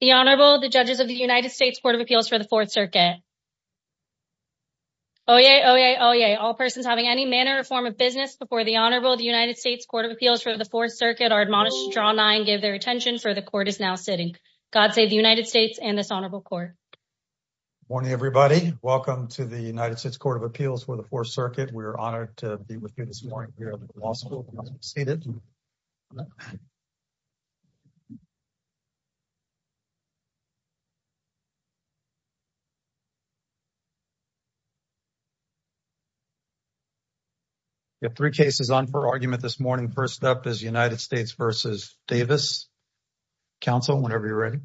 The Honorable, the judges of the United States Court of Appeals for the 4th Circuit. Oyez, oyez, oyez, all persons having any manner or form of business before the Honorable, the United States Court of Appeals for the 4th Circuit are admonished to draw nine, give their attention, for the court is now sitting. God save the United States and this Honorable Court. Morning everybody. Welcome to the United States Court of Appeals for the 4th Circuit. We're going to have three cases on for argument this morning. First up is United States v. Davis. Counsel, whenever you're ready.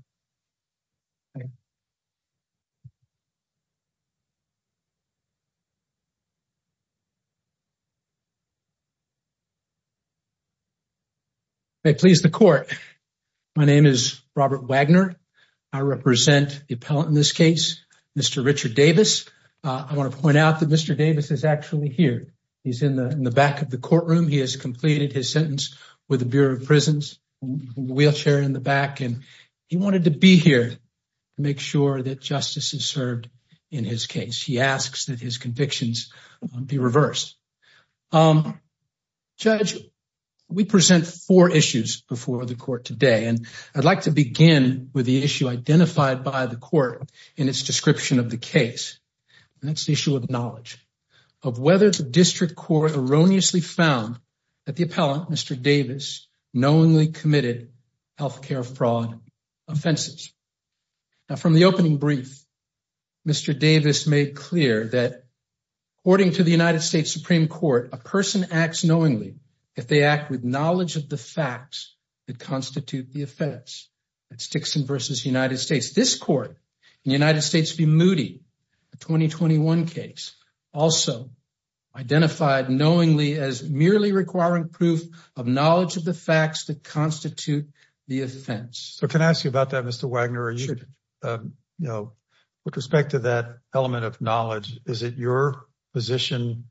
May it please the court. My name is Robert Wagner. I represent the appellant in this case, Mr. Richard Davis. I want to point out that Mr. Davis is actually here. He's in the back of the wheelchair in the back, and he wanted to be here to make sure that justice is served in his case. He asks that his convictions be reversed. Judge, we present four issues before the court today, and I'd like to begin with the issue identified by the court in its description of the case. That's the issue of knowledge, of whether the district court erroneously found that the health care fraud offenses. Now, from the opening brief, Mr. Davis made clear that, according to the United States Supreme Court, a person acts knowingly if they act with knowledge of the facts that constitute the offense. That's Dixon v. United States. This court, in the United States v. Moody, a 2021 case, also identified knowingly as merely requiring proof of knowledge of the facts that constitute the offense. So, can I ask you about that, Mr. Wagner? With respect to that element of knowledge, is it your position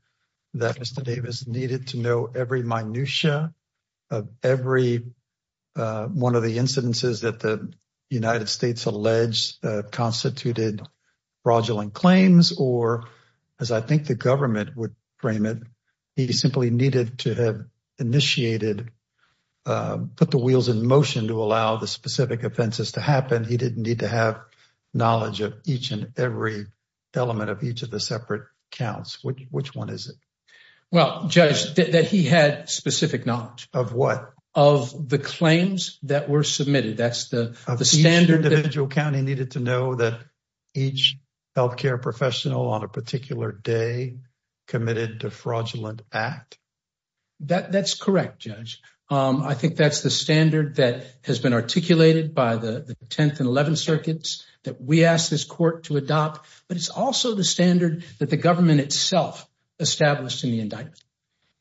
that Mr. Davis needed to know every minutiae of every one of the incidences that the United States alleged constituted fraudulent claims, or as I think the government would frame it, he simply needed to have initiated, put the wheels in motion to allow the specific offenses to happen? He didn't need to have knowledge of each and every element of each of the separate counts. Which one is it? Well, Judge, that he had specific knowledge. Of what? Of the claims that were submitted. That's the standard. Each individual county needed to know that each health care professional on a particular day committed a fraudulent act? That's correct, Judge. I think that's the standard that has been articulated by the 10th and 11th circuits that we asked this court to adopt, but it's also the standard that the government itself established in the indictment.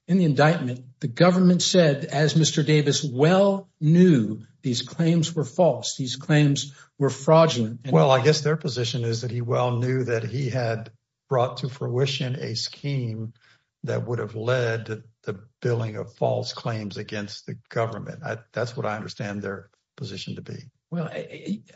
In the indictment, the government said, as Mr. Davis well knew, these claims were false. These claims were fraudulent. Well, I guess their position is that he well knew that he had brought to fruition a scheme that would have led the billing of false claims against the government. That's what I understand their position to be. Well,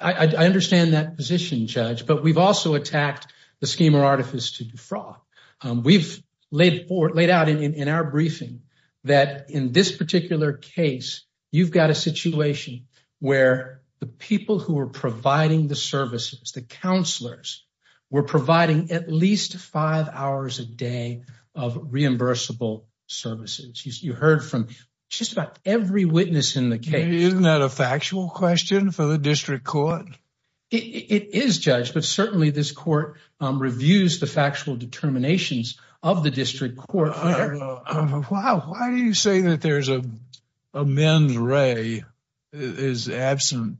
I understand that position, Judge, but we've also attacked the schema artifice to defraud. We've laid out in our briefing that in this particular case, you've got a situation where the people who are providing the services, the counselors, were providing at least five hours a day of reimbursable services. You heard from just about every witness in the case. Isn't that a factual question for the district court? It is, Judge, but certainly this court reviews the factual determinations of the district court. Well, why do you say that there's a men's ray is absent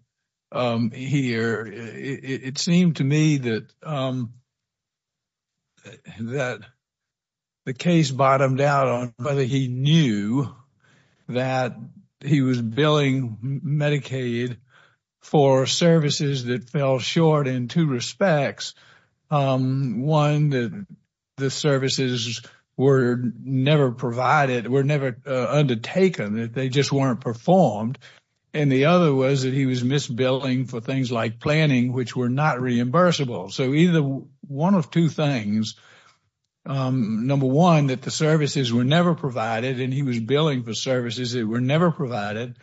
here? It seemed to me that the case bottomed out on whether he knew that he was billing Medicaid for services that fell short in two respects. One, that the services were never undertaken. They just weren't performed. The other was that he was misbilling for things like planning, which were not reimbursable. One of two things. Number one, that the services were never provided and he was billing for services that were provided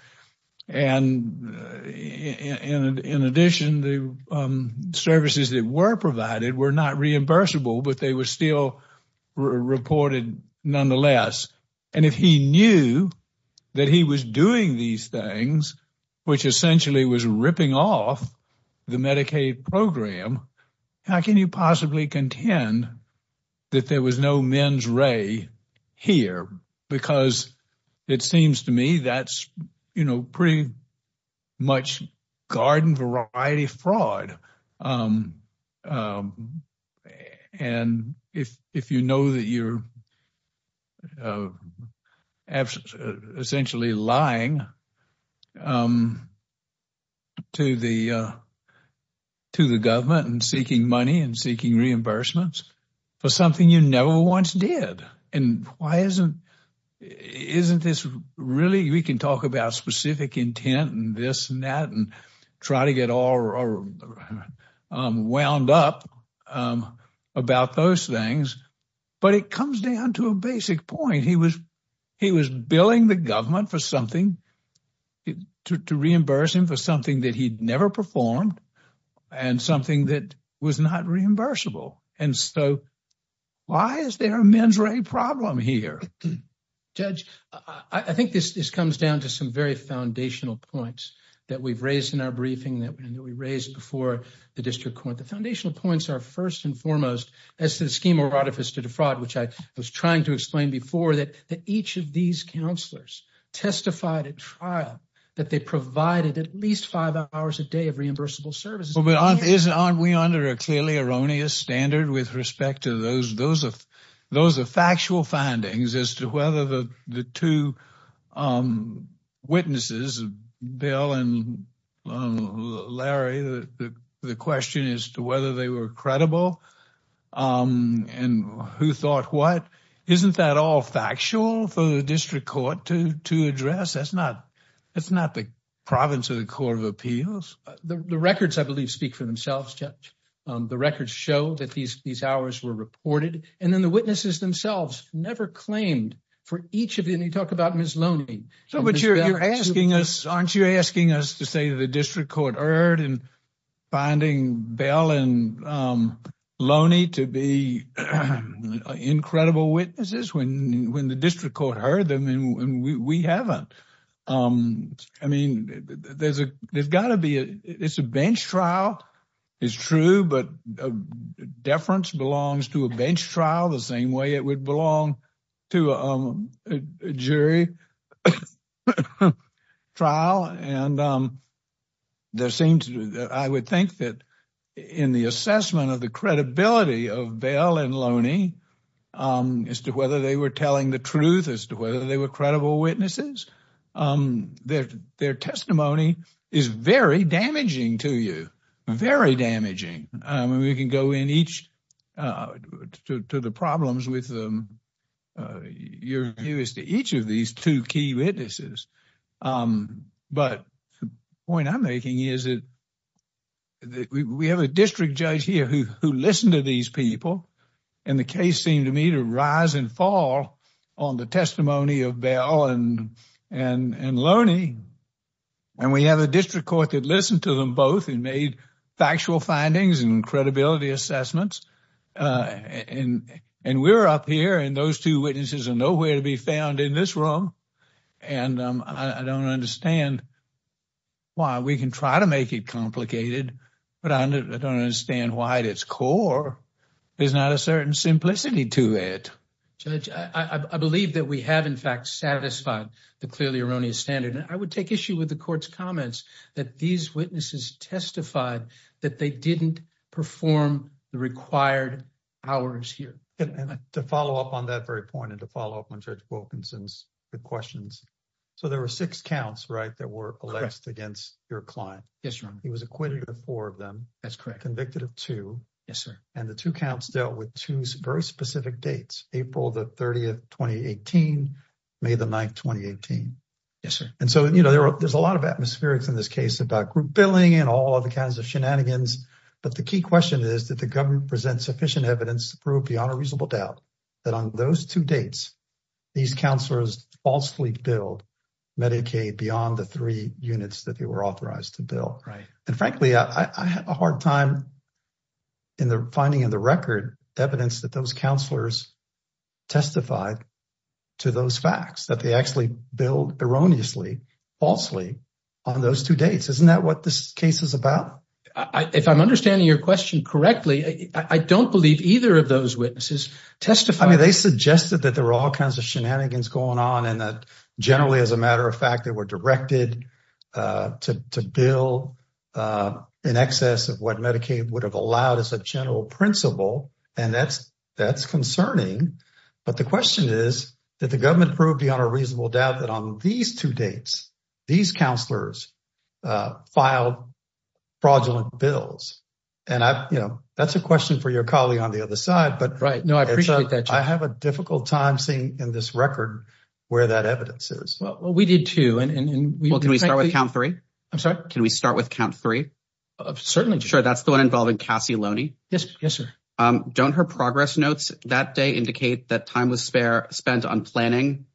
were not reimbursable, but they were still reported nonetheless. And if he knew that he was doing these things, which essentially was ripping off the Medicaid program, how can you possibly contend that there was no men's ray here? Because it seems to me that's, you know, pretty much garden variety fraud. And if you know that you're essentially lying to the government and seeking money and seeking reimbursements for something you never once did, and why isn't, isn't this really, we can talk about specific intent and this and that and try to get all wound up about those things. But it comes down to a basic point. He was, he was billing the government for something to reimburse him for something that he'd never performed and something that was not reimbursable. And so why is there a men's ray problem here? Judge, I think this, this comes down to some very foundational points that we've raised in our briefing that we raised before the district court. The foundational points are first and foremost as to the scheme of fraudifice to defraud, which I was trying to explain before that each of these counselors testified at trial that they provided at least five hours a day of reimbursable services. But aren't, isn't, aren't we under a clearly erroneous standard with respect to those, those are, those are factual findings as to whether the, the two witnesses, Bill and um, Larry, the, the, the question is to whether they were credible, um, and who thought what, isn't that all factual for the district court to, to address? That's not, that's not the province of the court of appeals. The records, I believe, speak for themselves, Judge. Um, the records show that these, these hours were reported and then the witnesses themselves never claimed for each of Ms. Loney. So, but you're, you're asking us, aren't you asking us to say the district court heard in finding Bill and, um, Loney to be incredible witnesses when, when the district court heard them and we, we haven't. Um, I mean, there's a, there's gotta be a, it's a bench trial, it's true, but deference belongs to a bench trial the same way it would belong to, um, jury trial. And, um, there seems to, I would think that in the assessment of the credibility of Bill and Loney, um, as to whether they were telling the truth, as to whether they were credible witnesses, um, their, their testimony is very damaging to you, very damaging. Um, to the problems with, um, uh, you're curious to each of these two key witnesses. Um, but the point I'm making is that we have a district judge here who, who listened to these people and the case seemed to me to rise and fall on the testimony of Bill and, and, and Loney. And we have a district court that listened to them both and made factual findings and assessments. Uh, and, and we're up here and those two witnesses are nowhere to be found in this room. And, um, I don't understand why we can try to make it complicated, but I don't understand why at its core, there's not a certain simplicity to it. Judge, I believe that we have in fact satisfied the clearly erroneous standard. And I would take issue with the court's comments that these witnesses testified that they didn't perform the required hours here. To follow up on that very point and to follow up on Judge Wilkinson's good questions. So there were six counts, right? That were alleged against your client. Yes, Your Honor. He was acquitted of four of them. That's correct. Convicted of two. Yes, sir. And the two counts dealt with two very specific dates, April the 30th, 2018, May the 9th, 2018. Yes, sir. And so, you know, there are, there's a lot of atmospherics in this case about group billing and all other kinds of shenanigans. But the key question is that the government presents sufficient evidence to prove beyond a reasonable doubt that on those two dates, these counselors falsely billed Medicaid beyond the three units that they were authorized to bill. Right. And frankly, I had a hard time in the finding of the record evidence that those counselors testified to those facts. That they actually billed erroneously, falsely on those two dates. Isn't that what this case is about? If I'm understanding your question correctly, I don't believe either of those witnesses testified. I mean, they suggested that there were all kinds of shenanigans going on. And that generally, as a matter of fact, they were directed to bill in excess of what Medicaid would have allowed as a general principle. And that's, that's concerning. But the question is, did the government prove beyond a reasonable doubt that on these two dates, these counselors filed fraudulent bills? And I've, you know, that's a question for your colleague on the other side. But right now, I have a difficult time seeing in this record where that evidence is. Well, we did too. And can we start with count three? I'm sorry. Can we start with count three? Certainly. Sure. That's the one involving Cassie Yes. Yes, sir. Don't her progress notes that day indicate that time was spent on planning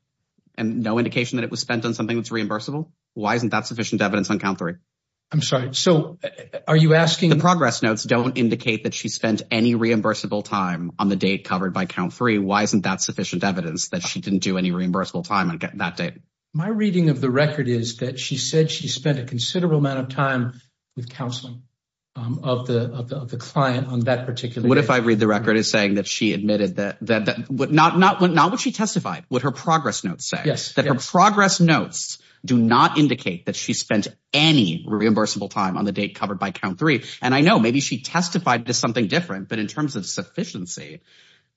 and no indication that it was spent on something that's reimbursable? Why isn't that sufficient evidence on count three? I'm sorry. So are you asking? The progress notes don't indicate that she spent any reimbursable time on the date covered by count three. Why isn't that sufficient evidence that she didn't do any reimbursable time on that date? My reading of the record is that she spent a considerable amount of time with counseling of the client on that particular. What if I read the record as saying that she admitted that not what she testified, what her progress notes say. Yes. That her progress notes do not indicate that she spent any reimbursable time on the date covered by count three. And I know maybe she testified to something different, but in terms of sufficiency,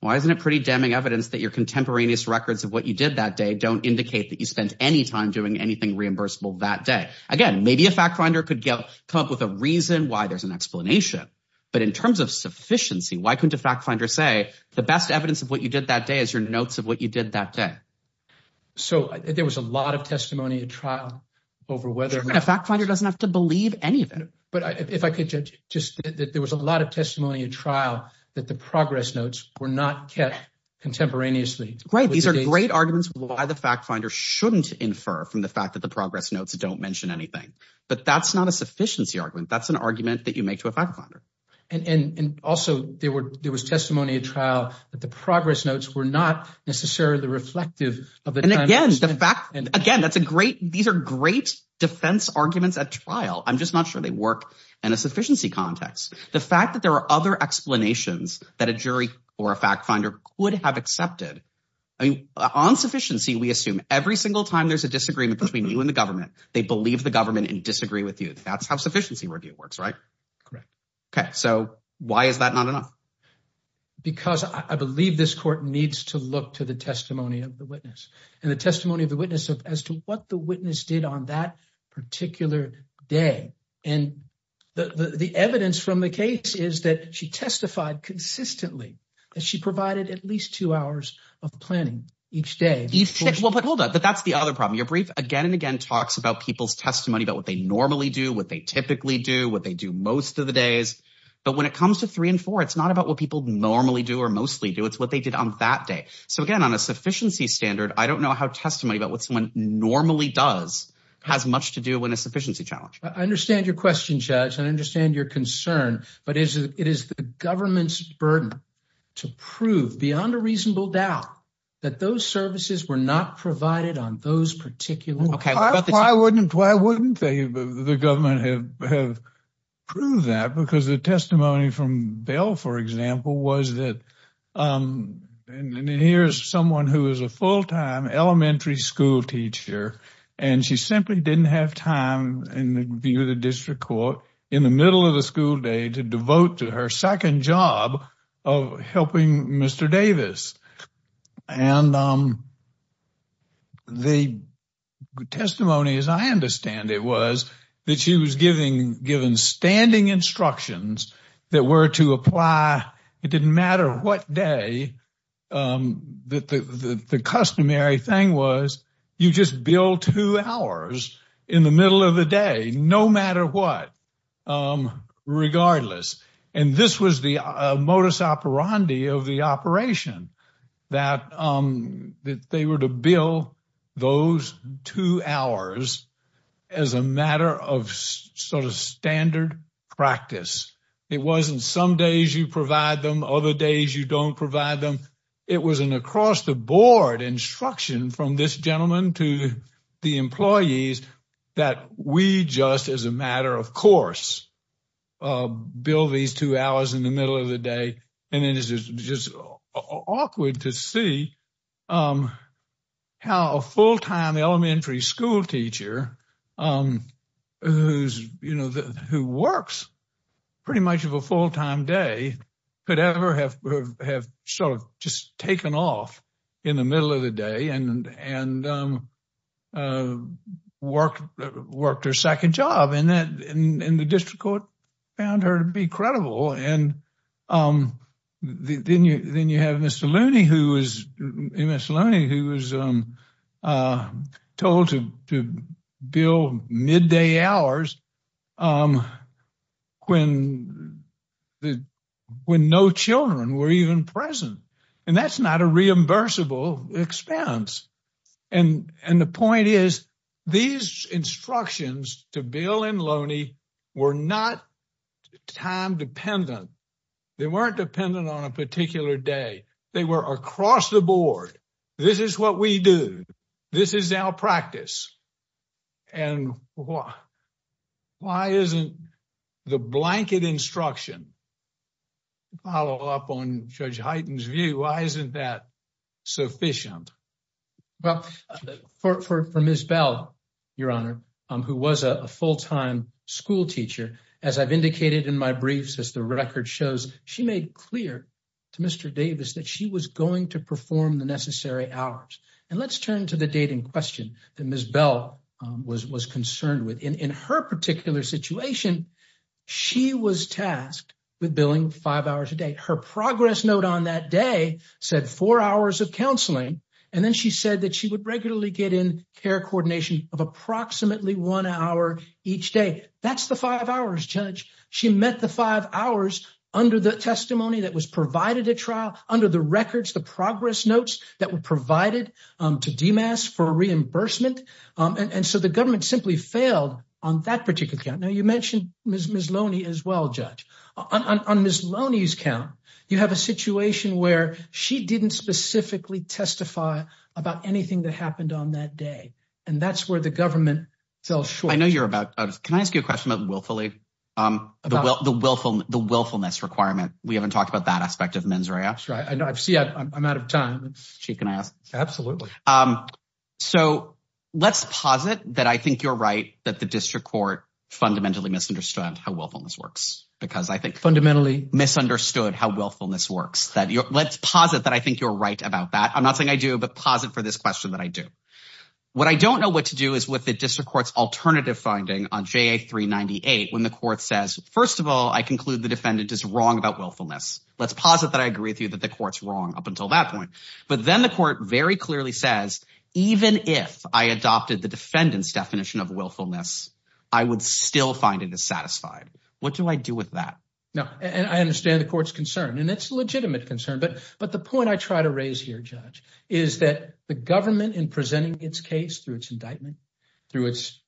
why isn't it pretty damning evidence that your contemporaneous records of what you did that day don't indicate that you spent any time doing anything reimbursable that day? Again, maybe a fact finder could come up with a reason why there's an explanation, but in terms of sufficiency, why couldn't a fact finder say the best evidence of what you did that day is your notes of what you did that day? So there was a lot of testimony at trial over whether... A fact finder doesn't have to believe any of it. But if I could just, there was a lot of testimony at trial that the progress notes were not kept contemporaneously. Right. These are great arguments why the fact finder shouldn't infer from the fact that the progress notes don't mention anything. But that's not a sufficiency argument. That's an argument that you make to a fact finder. And also, there was testimony at trial that the progress notes were not necessarily reflective of the... And again, the fact... Again, that's a great... These are great defense arguments at trial. I'm just not sure they work in a sufficiency context. The fact that there are other explanations that a jury or a fact finder would have accepted. On sufficiency, we assume every single time there's a disagreement between you and the government, they believe the government and disagree with you. That's how sufficiency review works, right? Correct. Okay. So why is that not enough? Because I believe this court needs to look to the testimony of the witness and the testimony of the witness as to what the witness did on that particular day. And the evidence from the case is that she testified consistently that she provided at least two hours of planning each day. Each day? Well, but hold on. That's the other problem. Your brief again and again talks about people's testimony about what they normally do, what they typically do, what they do most of the days. But when it comes to three and four, it's not about what people normally do or mostly do. It's what they did on that day. So again, on a sufficiency standard, I don't know how testimony about what someone normally does has much to do with a sufficiency challenge. I understand your question, Judge, and I understand your concern, but it is the government's burden to prove beyond a reasonable doubt that those services were not provided on those particular days. Why wouldn't they, the government, have proved that? Because the testimony from Bell, for example, was that here's someone who is a full-time elementary school teacher and she simply didn't have time in the view of the district court in the middle of the school day to devote to her second job of helping Mr. Davis. And the testimony, as I understand it, was that she was given standing instructions that were to apply. It didn't matter what day. The customary thing was you just bill two hours in the middle of the day, no matter what, regardless. And this was the modus operandi of the operation, that they were to bill those two hours as a matter of sort of standard practice. It wasn't some days you provide them, other days you don't provide them. It was an across-the-board instruction from this gentleman to the employees that we just, as a matter of course, bill these two hours in the middle of the day. And it is just awkward to see how a full-time elementary school teacher who works pretty much of a full-time day could ever have sort of just taken off in the middle of the day and worked her second job. And the district court found her to be credible. And then you have Mr. Looney who was told to bill midday hours when no children were even present. And that's not a reimbursable expense. And the point is, these instructions to Bill and Looney were not time-dependent. They weren't dependent on a particular day. They were across-the-board. This is what we do. This is our practice. And why isn't the blanket instruction, follow up on Judge Hyten's view, why isn't that sufficient? Well, for Ms. Bell, Your Honor, who was a full-time school teacher, as I've indicated in my briefs, as the record shows, she made clear to Mr. Davis that she was going to perform the necessary hours. And let's turn to the date in question that Ms. Bell was concerned with. In her particular situation, she was tasked with billing five hours a day. Her progress note on that day said four hours of counseling. And then she said that she would regularly get in care coordination of approximately one hour each day. That's the five hours, Judge. She met the five hours under the testimony that was provided at trial, under the records, the progress notes that were provided to DMAS for reimbursement. And so the government simply failed on that account. Now, you mentioned Ms. Loney as well, Judge. On Ms. Loney's count, you have a situation where she didn't specifically testify about anything that happened on that day. And that's where the government fell short. I know you're about, can I ask you a question about willfully, the willfulness requirement? We haven't talked about that aspect of mens rea. That's right. I know. I see I'm out of time. Chief, can I ask? Absolutely. So let's posit that I think you're right that the district court fundamentally misunderstood how willfulness works because I think fundamentally misunderstood how willfulness works. Let's posit that I think you're right about that. I'm not saying I do, but posit for this question that I do. What I don't know what to do is with the district court's alternative finding on JA 398 when the court says, first of all, I conclude the defendant is wrong about willfulness. Let's posit that I agree with you that the court's wrong up until that point. But then the court very clearly says, even if I adopted the defendant's definition of willfulness, I would still find it dissatisfied. What do I do with that? No. And I understand the court's concern and it's a legitimate concern. But the point I try to raise here, Judge, is that the government in presenting its case through its indictment, through its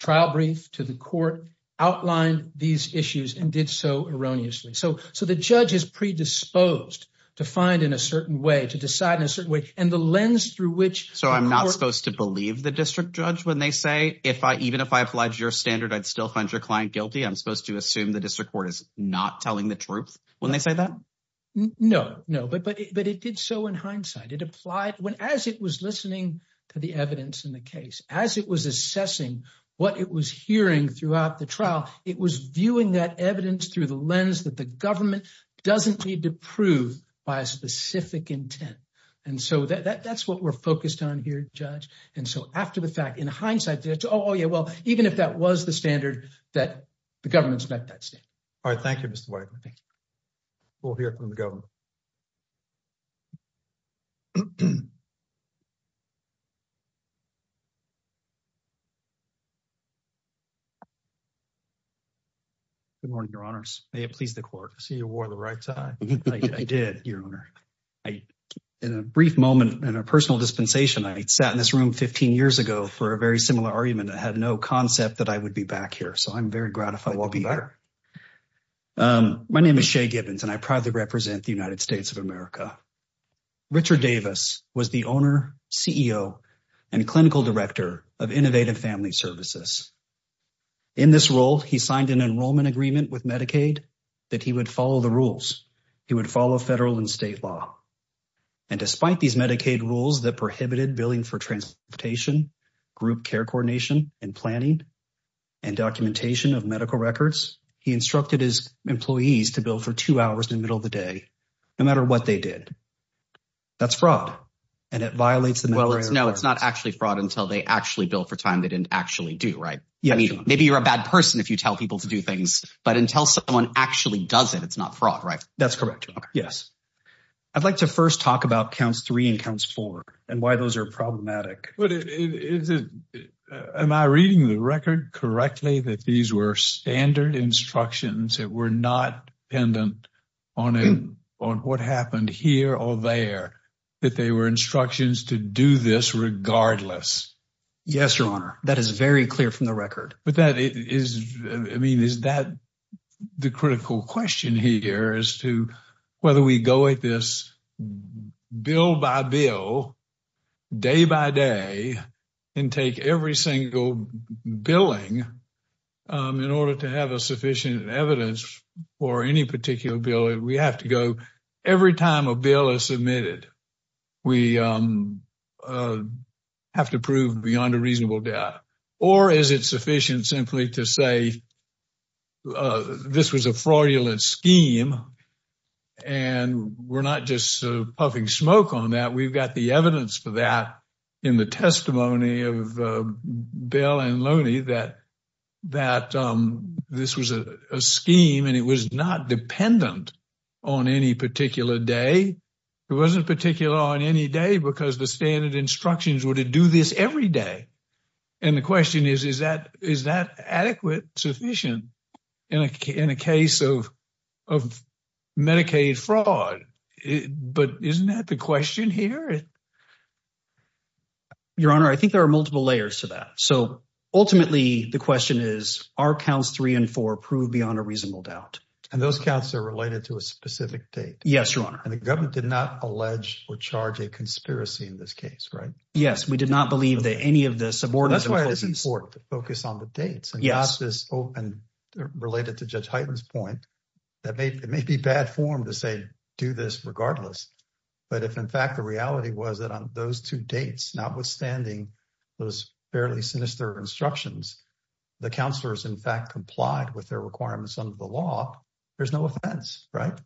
trial brief to the court outlined these issues and did so erroneously. So the judge is predisposed to find in a certain way, to decide in a certain way. And the lens through So I'm not supposed to believe the district judge when they say, even if I applied your standard, I'd still find your client guilty. I'm supposed to assume the district court is not telling the truth when they say that? No, no. But it did so in hindsight. As it was listening to the evidence in the case, as it was assessing what it was hearing throughout the trial, it was viewing that evidence through the lens that the government doesn't need to prove by a focused on here, Judge. And so after the fact, in hindsight, oh yeah, well, even if that was the standard that the government's met that standard. All right. Thank you, Mr. White. We'll hear from the government. Good morning, Your Honors. May it please the court. I see you wore the right side. I did, Your Honor. In a brief moment and a personal dispensation, I sat in this room 15 years ago for a very similar argument. I had no concept that I would be back here. So I'm very gratified to be back. My name is Shea Gibbons and I proudly represent the United States of America. Richard Davis was the owner, CEO, and clinical director of Innovative Family Services. In this role, he signed an enrollment agreement with Medicaid that he would follow the rules. He would follow federal and state law. And despite these Medicaid rules that prohibited billing for transportation, group care coordination, and planning, and documentation of medical records, he instructed his employees to bill for two hours in the middle of the day, no matter what they did. That's fraud. And it violates the... No, it's not actually fraud until they actually bill for time they didn't actually do, right? Yeah. Maybe you're a bad person if you tell people to do that. That's correct, Your Honor. Yes. I'd like to first talk about counts three and counts four and why those are problematic. Am I reading the record correctly that these were standard instructions that were not dependent on what happened here or there, that they were instructions to do this regardless? Yes, Your Honor. That is very clear from the record. I mean, is that the critical question here as to whether we go at this bill by bill, day by day, and take every single billing in order to have a sufficient evidence for any particular bill? We have to go... Every time a bill is submitted, we have to prove beyond a reasonable doubt. Or is it sufficient simply to say, this was a fraudulent scheme and we're not just puffing smoke on that. We've got the evidence for that in the testimony of Bill and Loni that this was a scheme and it was not dependent on any particular day. It wasn't particular on any day because the standard instructions were to do this every day. The question is, is that adequate, sufficient in a case of Medicaid fraud? But isn't that the question here? Your Honor, I think there are multiple layers to that. Ultimately, the question is, are counts three and four proved beyond a reasonable doubt? Those counts are related to a specific date. Yes, Your Honor. And the government did not allege or charge a conspiracy in this case, right? Yes, we did not believe that any of the subordinates... That's why it is important to focus on the dates and not this open, related to Judge Hyten's point, that it may be bad form to say, do this regardless. But if in fact the reality was that on those two dates, notwithstanding those fairly sinister instructions, the counselors in fact complied with their requirements under the law, there's no offense, right?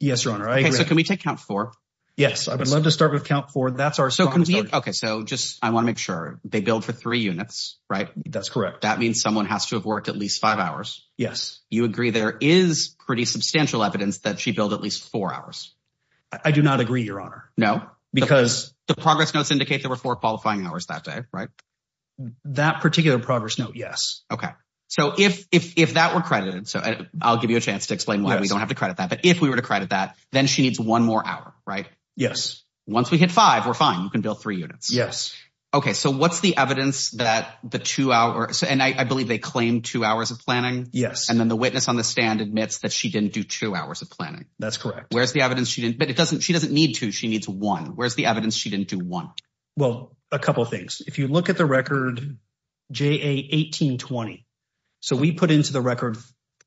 Yes, Your Honor. I agree. So can we take count four? Yes, I would love to start with count four. That's our strongest argument. Okay, so just I want to make sure they billed for three units, right? That's correct. That means someone has to have worked at least five hours. Yes. You agree there is pretty substantial evidence that she billed at least four hours? I do not agree, Your Honor. No? Because the progress notes indicate there were four qualifying hours that day, right? That particular progress note, yes. Okay. So if that were credited, so I'll give you a chance to explain why we don't have to credit that, but if we were to credit that then she needs one more hour, right? Yes. Once we hit five, we're fine. You can bill three units. Yes. Okay, so what's the evidence that the two hours, and I believe they claim two hours of planning. Yes. And then the witness on the stand admits that she didn't do two hours of planning. That's correct. Where's the evidence she didn't, but it doesn't, she doesn't need two, she needs one. Where's the evidence she didn't do one? Well, a couple of things. If you look at the record J.A. 1820, so we put into the record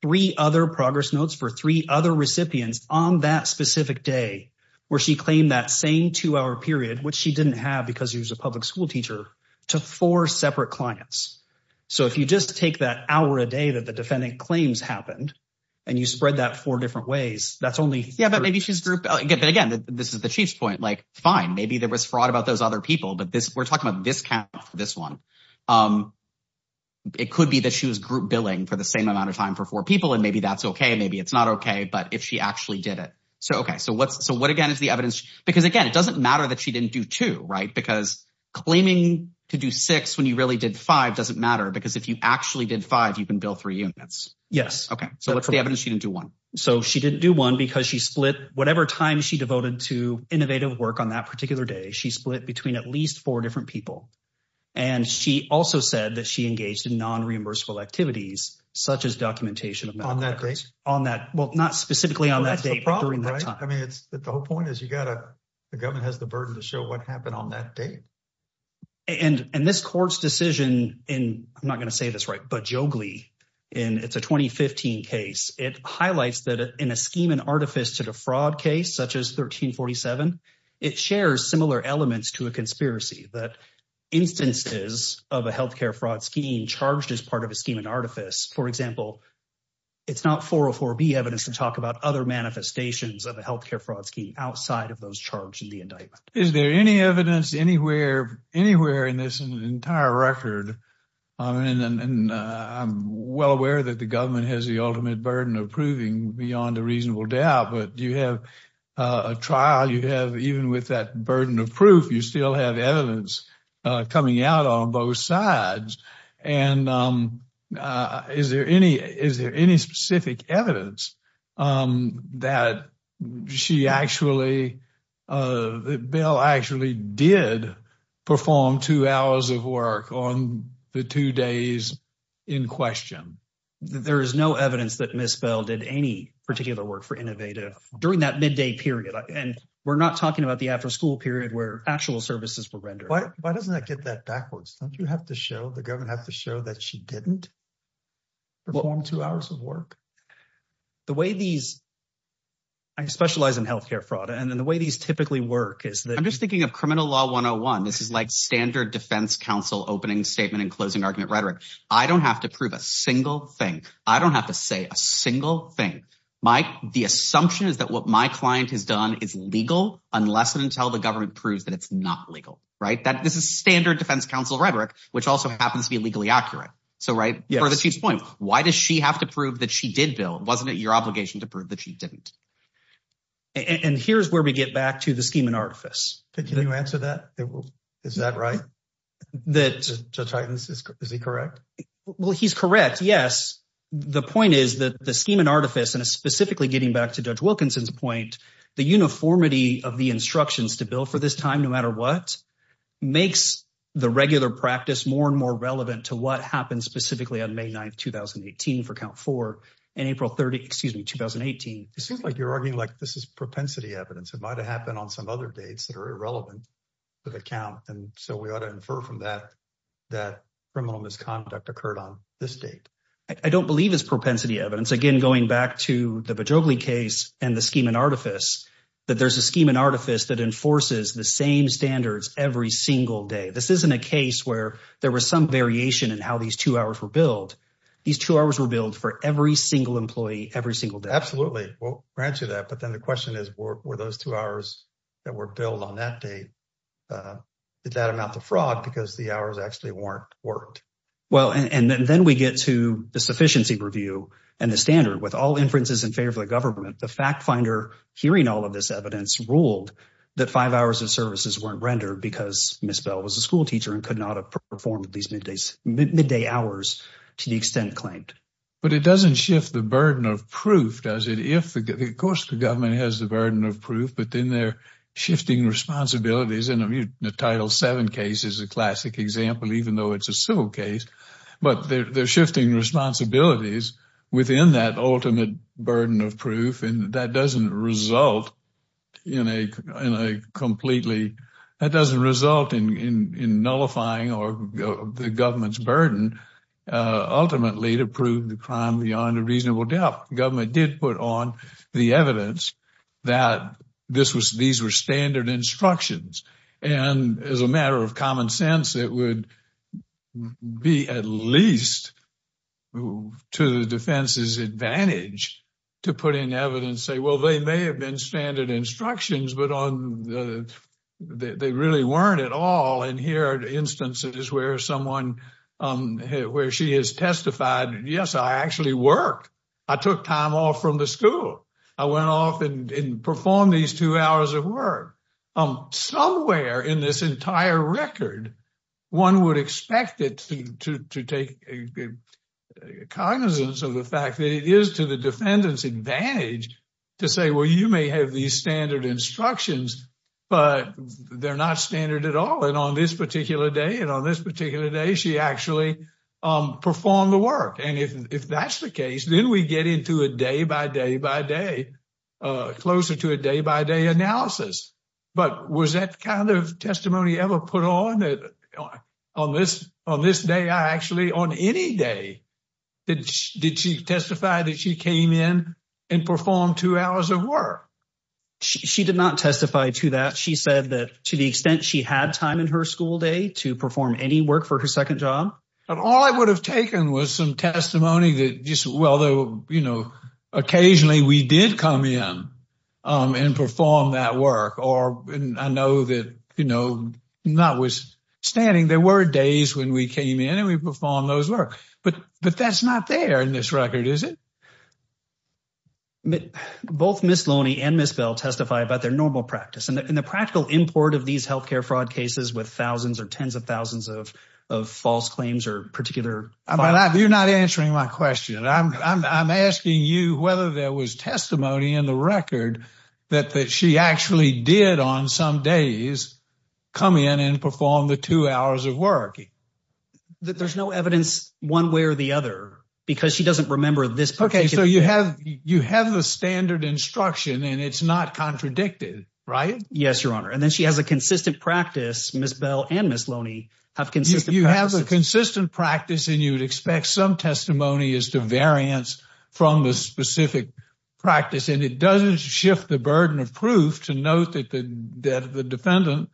three other progress notes for three other recipients on that specific day where she claimed that same two-hour period, which she didn't have because he was a public school teacher, to four separate clients. So if you just take that hour a day that the defendant claims happened and you spread that four different ways, that's only... Yeah, but maybe she's group, again, this is the Chief's point, like fine, maybe there was fraud about those other people, but we're talking about this count for this one. It could be that she was group billing for the same amount of time for four people and maybe that's okay, maybe it's not okay, but if she actually did it. So, okay, so what again is the evidence? Because again, it doesn't matter that she didn't do two, right? Because claiming to do six when you really did five doesn't matter because if you actually did five, you can bill three units. Yes. Okay, so what's the evidence she didn't do one? So she didn't do one because she split whatever time she devoted to innovative work on that particular day, she split between at least four different people. And she also said that she engaged in non-reimbursable activities, such as documentation of medical records. On that date? Well, not specifically on that date, but during that time. I mean, the whole point is the government has the burden to show what happened on that date. And this court's decision in, I'm not going to say this right, but Joglee, it's a 2015 case. It highlights that in a scheme and artifice to defraud case, such as 1347, it shares similar elements to a conspiracy that instances of a healthcare fraud scheme charged as part of a scheme and artifice. For example, it's not 404B evidence to talk about other manifestations of a healthcare fraud scheme outside of those charged in the indictment. Is there any evidence anywhere in this entire record, and I'm well aware that the government has the ultimate burden of proving beyond a reasonable doubt, but you have a trial, you have even with that burden of proof, you still have evidence coming out on both sides. And is there any specific evidence that she actually, that Bell actually did perform two hours of work on the two days in question? There is no evidence that Ms. Bell did any particular work for Innovative during that midday period. And we're not talking about the after school period where actual services were rendered. Why doesn't that get that backwards? Don't you have to show, the government have to show that she didn't perform two hours of work? The way these, I specialize in healthcare fraud, and then the way these typically work is that- I'm just thinking of criminal law 101. This is like standard defense counsel opening statement and closing argument rhetoric. I don't have to prove a single thing. I don't have to say a single thing. The assumption is that what my client has done is legal unless and until the government proves that it's not legal. This is standard defense counsel rhetoric, which also happens to be legally accurate. So for the chief's point, why does she have to prove that she did bill? Wasn't it your obligation to prove that she didn't? And here's where we get back to the scheme and artifice. Can you answer that? Is that right? Is he correct? Well, he's correct. Yes. The point is that the scheme and artifice and specifically getting back to Judge Wilkinson's point, the uniformity of the instructions to bill for this time, no matter what, makes the regular practice more and more relevant to what happened specifically on May 9th, 2018 for count four and April 30th, excuse me, 2018. It seems like you're arguing like this is propensity evidence. It might've happened on some other dates that are irrelevant to the count. And so we ought to infer from that, that criminal misconduct occurred on this date. I don't believe it's propensity evidence. Again, going back to the Bejogli case and the scheme and artifice, that there's a scheme and artifice that enforces the same standards every single day. This isn't a case where there was some variation in how these two hours were billed. These two hours were billed for every single employee, every single day. Absolutely. We'll grant you that. But then the question is, were those two hours that were billed on that date, did that amount to fraud because the hours actually weren't worked? Well, and then we get to sufficiency review and the standard with all inferences in favor of the government, the fact finder hearing all of this evidence ruled that five hours of services weren't rendered because Ms. Bell was a school teacher and could not have performed these midday hours to the extent claimed. But it doesn't shift the burden of proof, does it? Of course the government has the burden of proof, but then they're shifting responsibilities. And I mean, the title seven case is a classic example, even though it's a civil case, but they're shifting responsibilities within that ultimate burden of proof. And that doesn't result in nullifying the government's burden ultimately to prove the crime beyond a reasonable doubt. The government did put on the evidence that these were standard instructions. And as a matter of common sense, it would be at least to the defense's advantage to put in evidence and say, well, they may have been standard instructions, but they really weren't at all. And here are instances where someone, where she has testified, yes, I actually worked. I took time off from the school. I went off and performed these two hours of work. Somewhere in this entire record, one would expect it to take cognizance of the fact that it is to the defendant's advantage to say, well, you may have these standard instructions, but they're not standard at all. And on this particular day, and on this particular day, she actually performed the work. And if that's the case, then we get into a day by day by day, closer to a day by day analysis. But was that kind of testimony ever put on? On this day, I actually, on any day, did she testify that she came in and performed two hours of work? She did not testify to that. She said that to the extent she had time in her school day to perform any work for her second job. And all I would have taken was some testimony that just, well, you know, occasionally we did come in and perform that work, or I know that, you know, notwithstanding, there were days when we came in and we performed those work. But that's not there in this record, is it? Both Ms. Loney and Ms. Bell testify about their practice. And the practical import of these health care fraud cases with thousands or tens of thousands of false claims or particular... You're not answering my question. I'm asking you whether there was testimony in the record that she actually did on some days come in and perform the two hours of work. There's no evidence one way or the other, because she doesn't remember this particular day. Okay, so you have the standard instruction and it's not contradicted, right? Yes, Your Honor. And then she has a consistent practice, Ms. Bell and Ms. Loney have consistent practices. You have a consistent practice and you would expect some testimony as to variance from the specific practice. And it doesn't shift the burden of proof to note that the defendant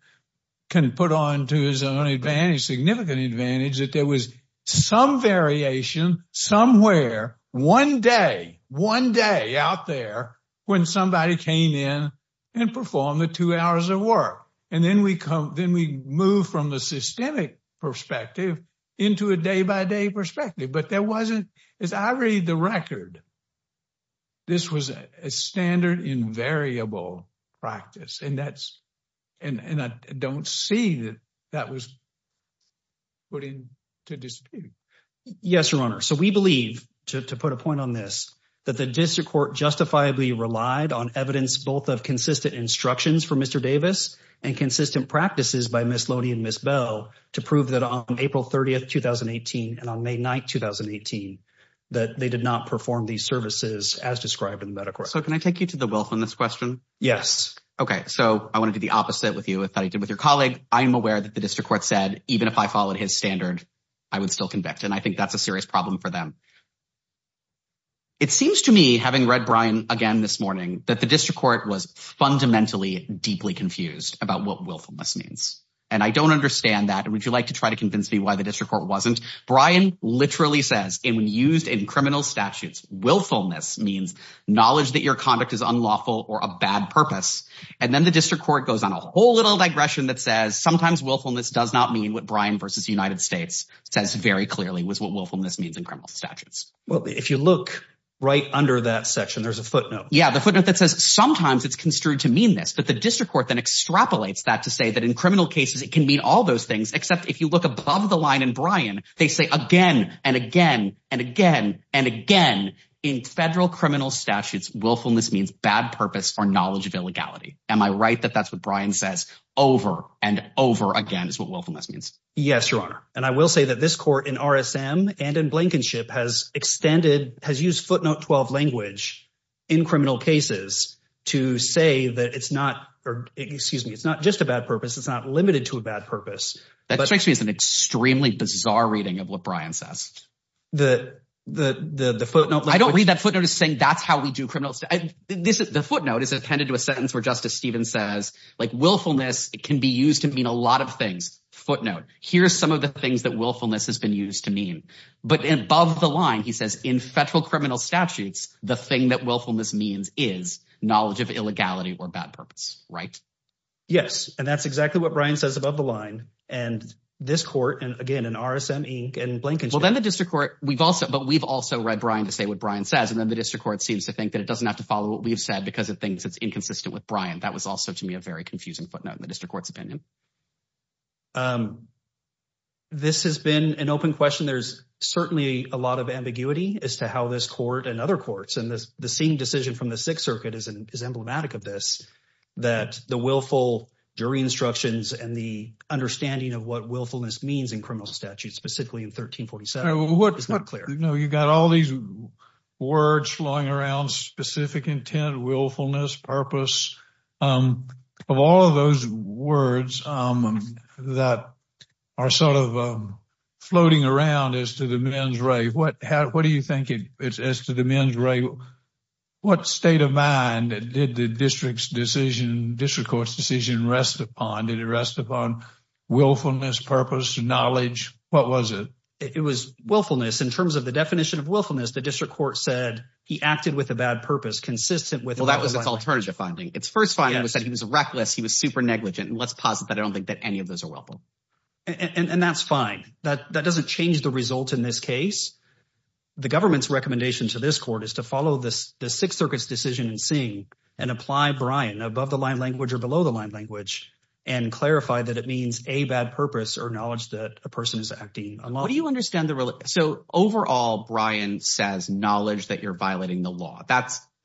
can put on to his own advantage, significant advantage, that there was some variation somewhere one day, one day out there when somebody came in and performed the two hours of work. And then we move from the systemic perspective into a day-by-day perspective. But there wasn't... As I read the record, this was a standard invariable practice. And I don't see that that was put into dispute. Yes, Your Honor. So we believe, to put a point on this, that the district court justifiably relied on evidence both of consistent instructions from Mr. Davis and consistent practices by Ms. Loney and Ms. Bell to prove that on April 30th, 2018 and on May 9th, 2018, that they did not perform these services as described in the medical record. So can I take you to the wealth on this question? Yes. Okay. So I want to do the that the district court said, even if I followed his standard, I would still convict. And I think that's a serious problem for them. It seems to me, having read Brian again this morning, that the district court was fundamentally deeply confused about what willfulness means. And I don't understand that. Would you like to try to convince me why the district court wasn't? Brian literally says, and when used in criminal statutes, willfulness means knowledge that your conduct is unlawful or a bad purpose. And then the district court goes on a whole little digression that says sometimes willfulness does not mean what Brian versus United States says very clearly was what willfulness means in criminal statutes. Well, if you look right under that section, there's a footnote. Yeah. The footnote that says sometimes it's construed to mean this, but the district court then extrapolates that to say that in criminal cases, it can mean all those things. Except if you look above the line and Brian, they say again and again and again, and again in federal criminal statutes, willfulness means bad purpose or knowledge of illegality. Am I right? That that's what Brian says over and over again is what willfulness means. Yes, your honor. And I will say that this court in RSM and in Blankenship has extended, has used footnote 12 language in criminal cases to say that it's not, or excuse me, it's not just a bad purpose. It's not limited to a bad purpose. That strikes me as an extremely bizarre reading of what Brian says. The, the, the, the footnote. I don't read that footnote is saying that's how we do criminals. The footnote is attended to a sentence where justice Steven says like willfulness can be used to mean a lot of things footnote. Here's some of the things that willfulness has been used to mean, but above the line, he says in federal criminal statutes, the thing that willfulness means is knowledge of illegality or bad purpose, right? Yes. And that's exactly what Brian says above the line and this court. And again, in RSM Inc and Blankenship. Well, then the district court, we've also, but we've also read Brian to say what Brian says. And then the district court seems to think that it doesn't have to follow what we've said because it thinks it's inconsistent with Brian. That was also to me, a very confusing footnote in the district court's opinion. This has been an open question. There's certainly a lot of ambiguity as to how this court and other courts, and the same decision from the sixth circuit is emblematic of this, that the willful jury instructions and the understanding of what willfulness means in criminal statutes, specifically in 1347. It's not clear. You've got all these words flowing around, specific intent, willfulness, purpose, of all of those words that are sort of floating around as to the men's rave. What do you think as to the men's rave, what state of mind did the district's decision, district court's decision rest upon? Did it rest upon willfulness, purpose, knowledge? What was it? It was willfulness. In terms of the definition of willfulness, the district court said he acted with a bad purpose consistent with- Well, that was its alternative finding. Its first finding was that he was reckless. He was super negligent. And let's posit that I don't think that any of those are willful. And that's fine. That doesn't change the result in this case. The government's recommendation to this court is to follow the sixth circuit's decision in seeing and apply Brian above the line language or below the line language and clarify that it means a bad purpose or knowledge that a person is acting unlawfully. So overall, Brian says knowledge that you're violating the law.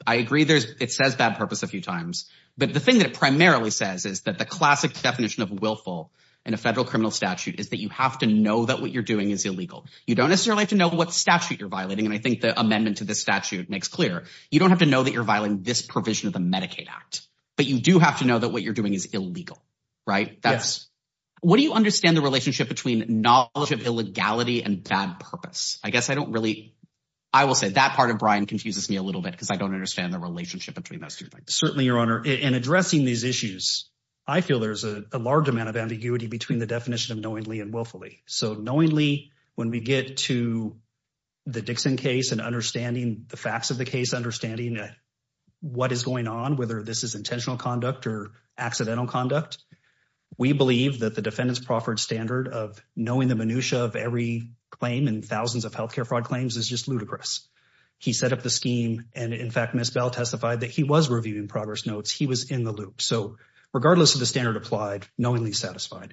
I agree it says bad purpose a few times, but the thing that it primarily says is that the classic definition of willful in a federal criminal statute is that you have to know that what you're doing is illegal. You don't necessarily have to know what statute you're violating. And I think the amendment to this statute makes clear. You don't have to know that you're violating this provision of the Medicaid Act, but you do have to know that what you're doing is illegal, right? What do you understand the relationship between knowledge of illegality and bad purpose? I guess I don't really, I will say that part of Brian confuses me a little bit because I don't understand the relationship between those two things. Certainly, Your Honor. In addressing these issues, I feel there's a large amount of ambiguity between the definition of knowingly and willfully. So knowingly, when we get to the Dixon case and understanding the facts of the case, understanding what is going on, whether this is intentional conduct or accidental conduct, we believe that the defendant's proffered standard of knowing the minutia of every claim and thousands of health care fraud claims is just ludicrous. He set up the scheme, and in fact, Ms. Bell testified that he was reviewing progress notes. He was in the loop. So regardless of the standard applied, knowingly satisfied.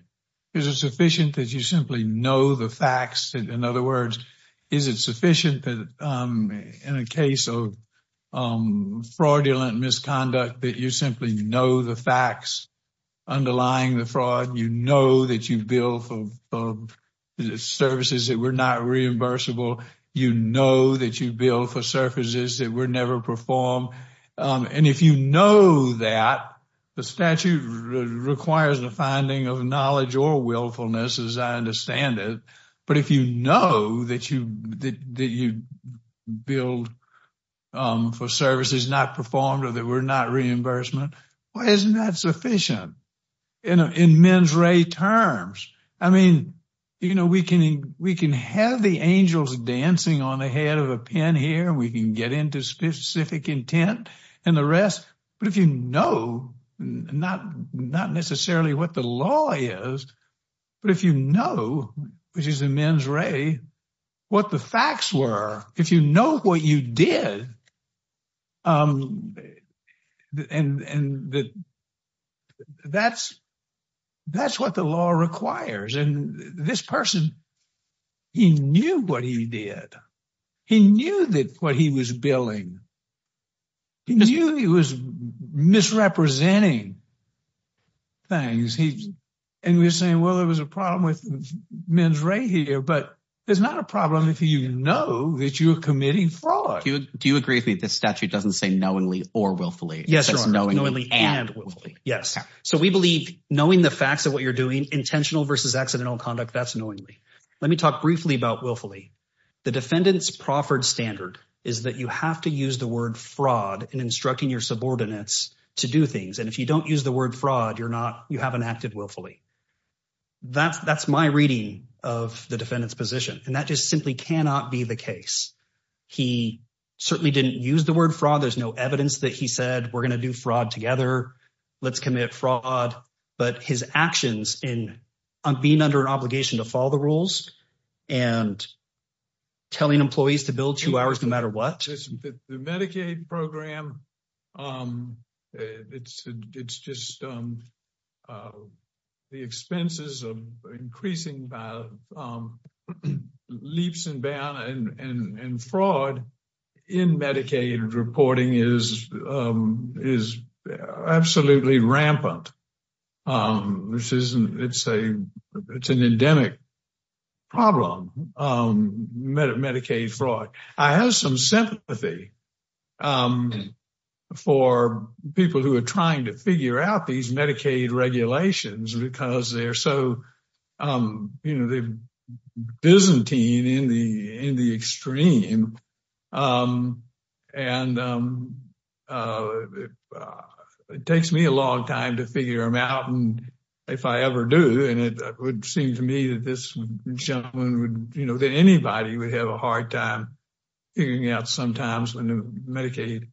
Is it sufficient that you simply know the facts? In other words, is it sufficient that in a case of fraudulent misconduct that you simply know the facts underlying the fraud? You know that you bill for services that were not reimbursable. You know that you bill for services that were never performed. And if you know that, the statute requires the finding of knowledge or willfulness, as I understand it. But if you know that you bill for services not performed or that were not reimbursement, why isn't that sufficient? In men's ray terms, I mean, you know, we can have the angels dancing on the head of a pen here. We can get into specific intent and the rest. But if you know, not necessarily what the law is, but if you know, which is in men's ray, what the facts were, if you know what you did, and that's what the law requires. And this person, he knew what he did. He knew that what he was billing, he knew he was misrepresenting things. And we were saying, well, there was a problem with men's ray here, but there's not a problem if you know that you're committing fraud. Do you agree with me that this statute doesn't say knowingly or willfully? Yes, knowingly and willfully. Yes. So we believe knowing the facts of what you're doing, intentional versus accidental conduct, that's knowingly. Let me talk briefly about willfully. The defendant's proffered standard is that you have to use the word fraud in instructing your subordinates to do things. And if you don't use the word fraud, you're not, you haven't acted willfully. That's my reading of the defendant's position. And that just simply cannot be the case. He certainly didn't use the word fraud. There's no evidence that he said, we're going to do fraud together. Let's commit fraud. But his actions in being under an obligation to follow the rules and telling employees to bill two hours, no matter what. The Medicaid program, it's just the expenses of increasing leaps and bounds and fraud in Medicaid reporting is absolutely rampant. It's an endemic problem, Medicaid fraud. I have some sympathy for people who are trying to figure out these Medicaid regulations because they're so, you know, they're Byzantine in the extreme. And it takes me a long time to figure them out. And if I ever do, and it would seem to me that this gentleman would, you know, that anybody would have a hard time figuring out sometimes when Medicaid.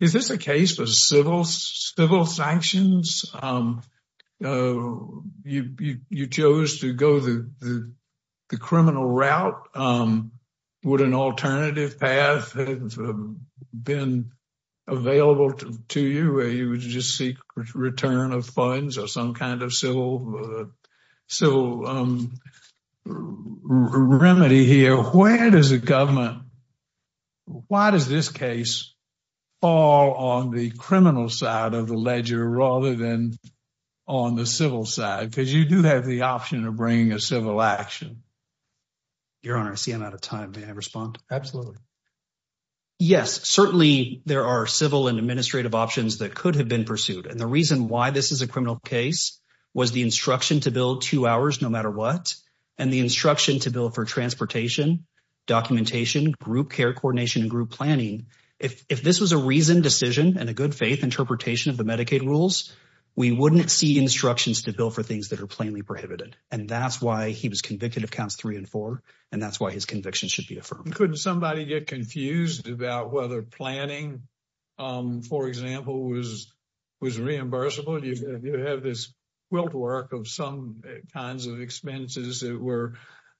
Is this a case for civil sanctions? You chose to go the criminal route. Would an alternative path have been available to you where you would just seek return of funds or some kind of civil remedy here? Where does the government, why does this case fall on the criminal side of the ledger rather than on the civil side? Because you do have the option of bringing a civil action. Your Honor, I see I'm out of time. May I respond? Absolutely. Yes, certainly there are civil and administrative options that could have been pursued. And the instruction to build two hours no matter what, and the instruction to build for transportation, documentation, group care coordination, and group planning. If this was a reasoned decision and a good faith interpretation of the Medicaid rules, we wouldn't see instructions to build for things that are plainly prohibited. And that's why he was convicted of counts three and four, and that's why his conviction should be affirmed. Couldn't somebody get confused about whether planning, for example, was reimbursable? You have this quilt work of some kinds of expenses that were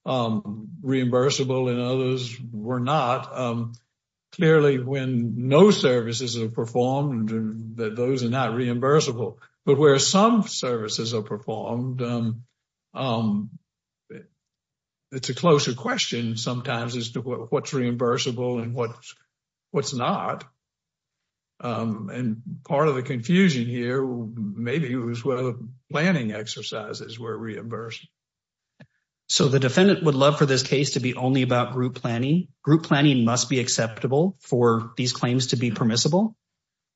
reimbursable and others were not. Clearly, when no services are performed, those are not reimbursable. But where some services are performed, it's a closer question sometimes as to what's reimbursable and what's not. And part of the confusion here, maybe it was whether planning exercises were reimbursed. So the defendant would love for this case to be only about group planning. Group planning must be acceptable for these claims to be permissible.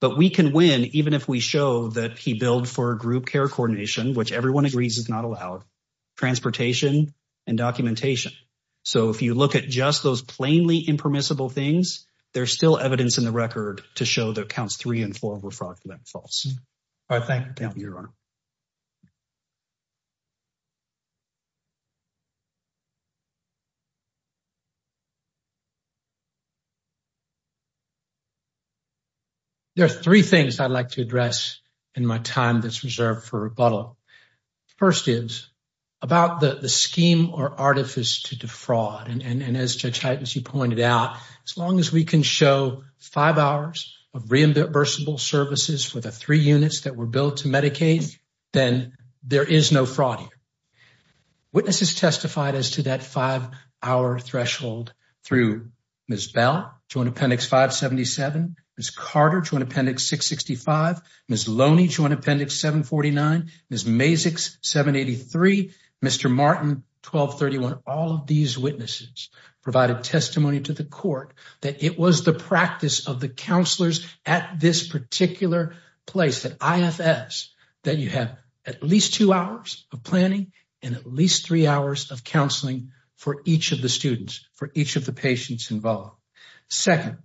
But we can win even if we show that he billed for group care coordination, which everyone agrees is not allowed, transportation, and documentation. So if you look at just those plainly impermissible things, there's still evidence in the record to show that counts three and four were fraudulent and false. All right, thank you. Thank you, Your Honor. First is about the scheme or artifice to defraud. And as Judge Hyte, as you pointed out, as long as we can show five hours of reimbursable services for the three units that were billed to Medicaid, then there is no fraud here. Witnesses testified as to that five-hour threshold through Ms. Bell, Joint Appendix 577, Ms. Carter, Joint Appendix 665, Ms. Loney, Joint Appendix 749, Ms. Mazik, 783, Mr. Martin, 1231. All of these witnesses provided testimony to the court that it was the practice of the counselors at this particular place, at IFS, that you have at least two hours of planning and at least three hours of counseling for each of the students, for each of the patients involved. Second,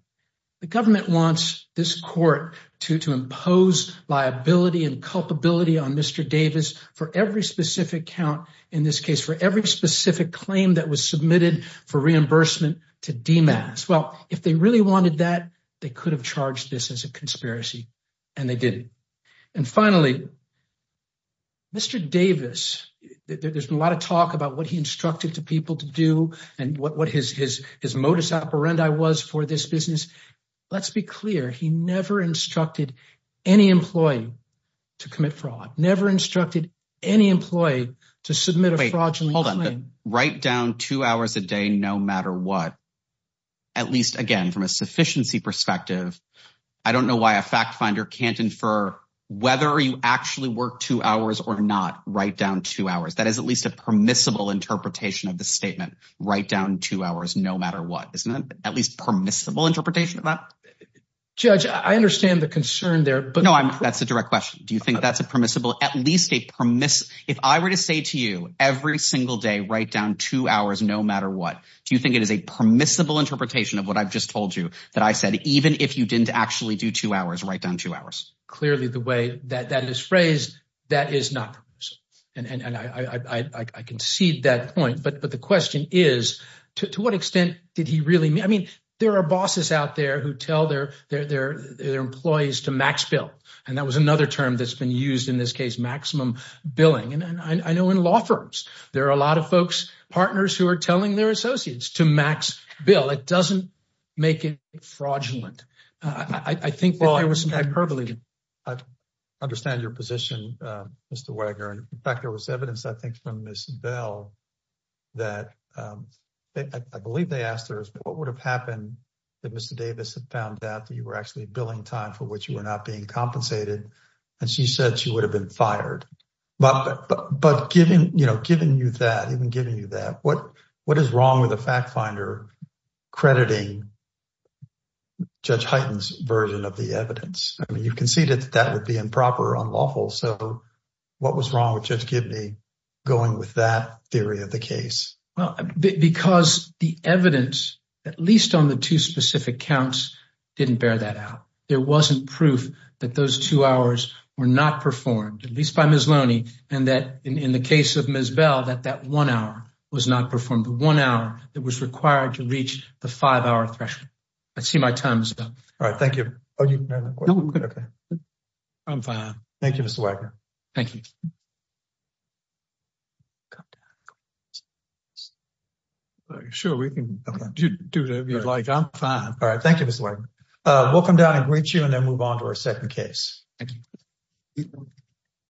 the government wants this court to impose liability and culpability on Mr. Davis for every specific count in this case, for every specific claim that was submitted for reimbursement to DMAS. Well, if they really wanted that, they could have charged this as a conspiracy and they didn't. And finally, Mr. Davis, there's been a lot of talk about what he instructed people to do and what his modus operandi was for this business. Let's be clear, he never instructed any employee to commit fraud, never instructed any employee to submit a fraudulent claim. Wait, hold on. Write down two hours a day no matter what, at least again from a sufficiency perspective. I don't know why a fact finder can't infer whether you actually work two hours or not. Write down two hours. That is at least a permissible interpretation of the statement. Write down two hours no matter what. Isn't that at least permissible interpretation of that? Judge, I understand the concern there. No, that's a direct question. Do you think that's a permissible, at least a permiss... If I were to say to you every single day, write down two hours no matter what, do you think it is a permissible interpretation of what I've just told you, that I said, even if you didn't actually do two hours, write down two hours? Clearly the way that is phrased, that is not permissible. And I concede that point. But the question is, to what extent did he really... I mean, there are bosses out there who tell their employees to max bill. And that was another term that's been used in this case, maximum billing. And I know in law firms, there are a lot of folks, partners who are telling their associates to max bill. It doesn't make it fraudulent. I think there was some hyperbole. I understand your position, Mr. Wagner. In fact, there was evidence, I think, from Ms. Bell that I believe they asked her, what would have happened if Mr. Davis had found out that you were actually billing time for which you were not being compensated? And she said she would have been fired. But given you that, even giving you that, what is wrong with a fact finder crediting Judge Hyten's version of the evidence? I mean, you conceded that that would be improper, unlawful. So what was wrong with Judge Gibney going with that theory of the case? Well, because the evidence, at least on the two specific counts, didn't bear that out. There wasn't proof that those two hours were not performed, at least by Ms. Loney, and that in the case of Ms. Bell, that that one hour was not performed. The one hour that was required to reach the five-hour threshold. I see my time is up. All right. Thank you. I'm fine. Thank you, Mr. Wagner. Thank you. Sure, we can do whatever you'd like. I'm fine. All right. Thank you, Mr. Wagner. Welcome down and I'll greet you and then move on to our second case. Thank you.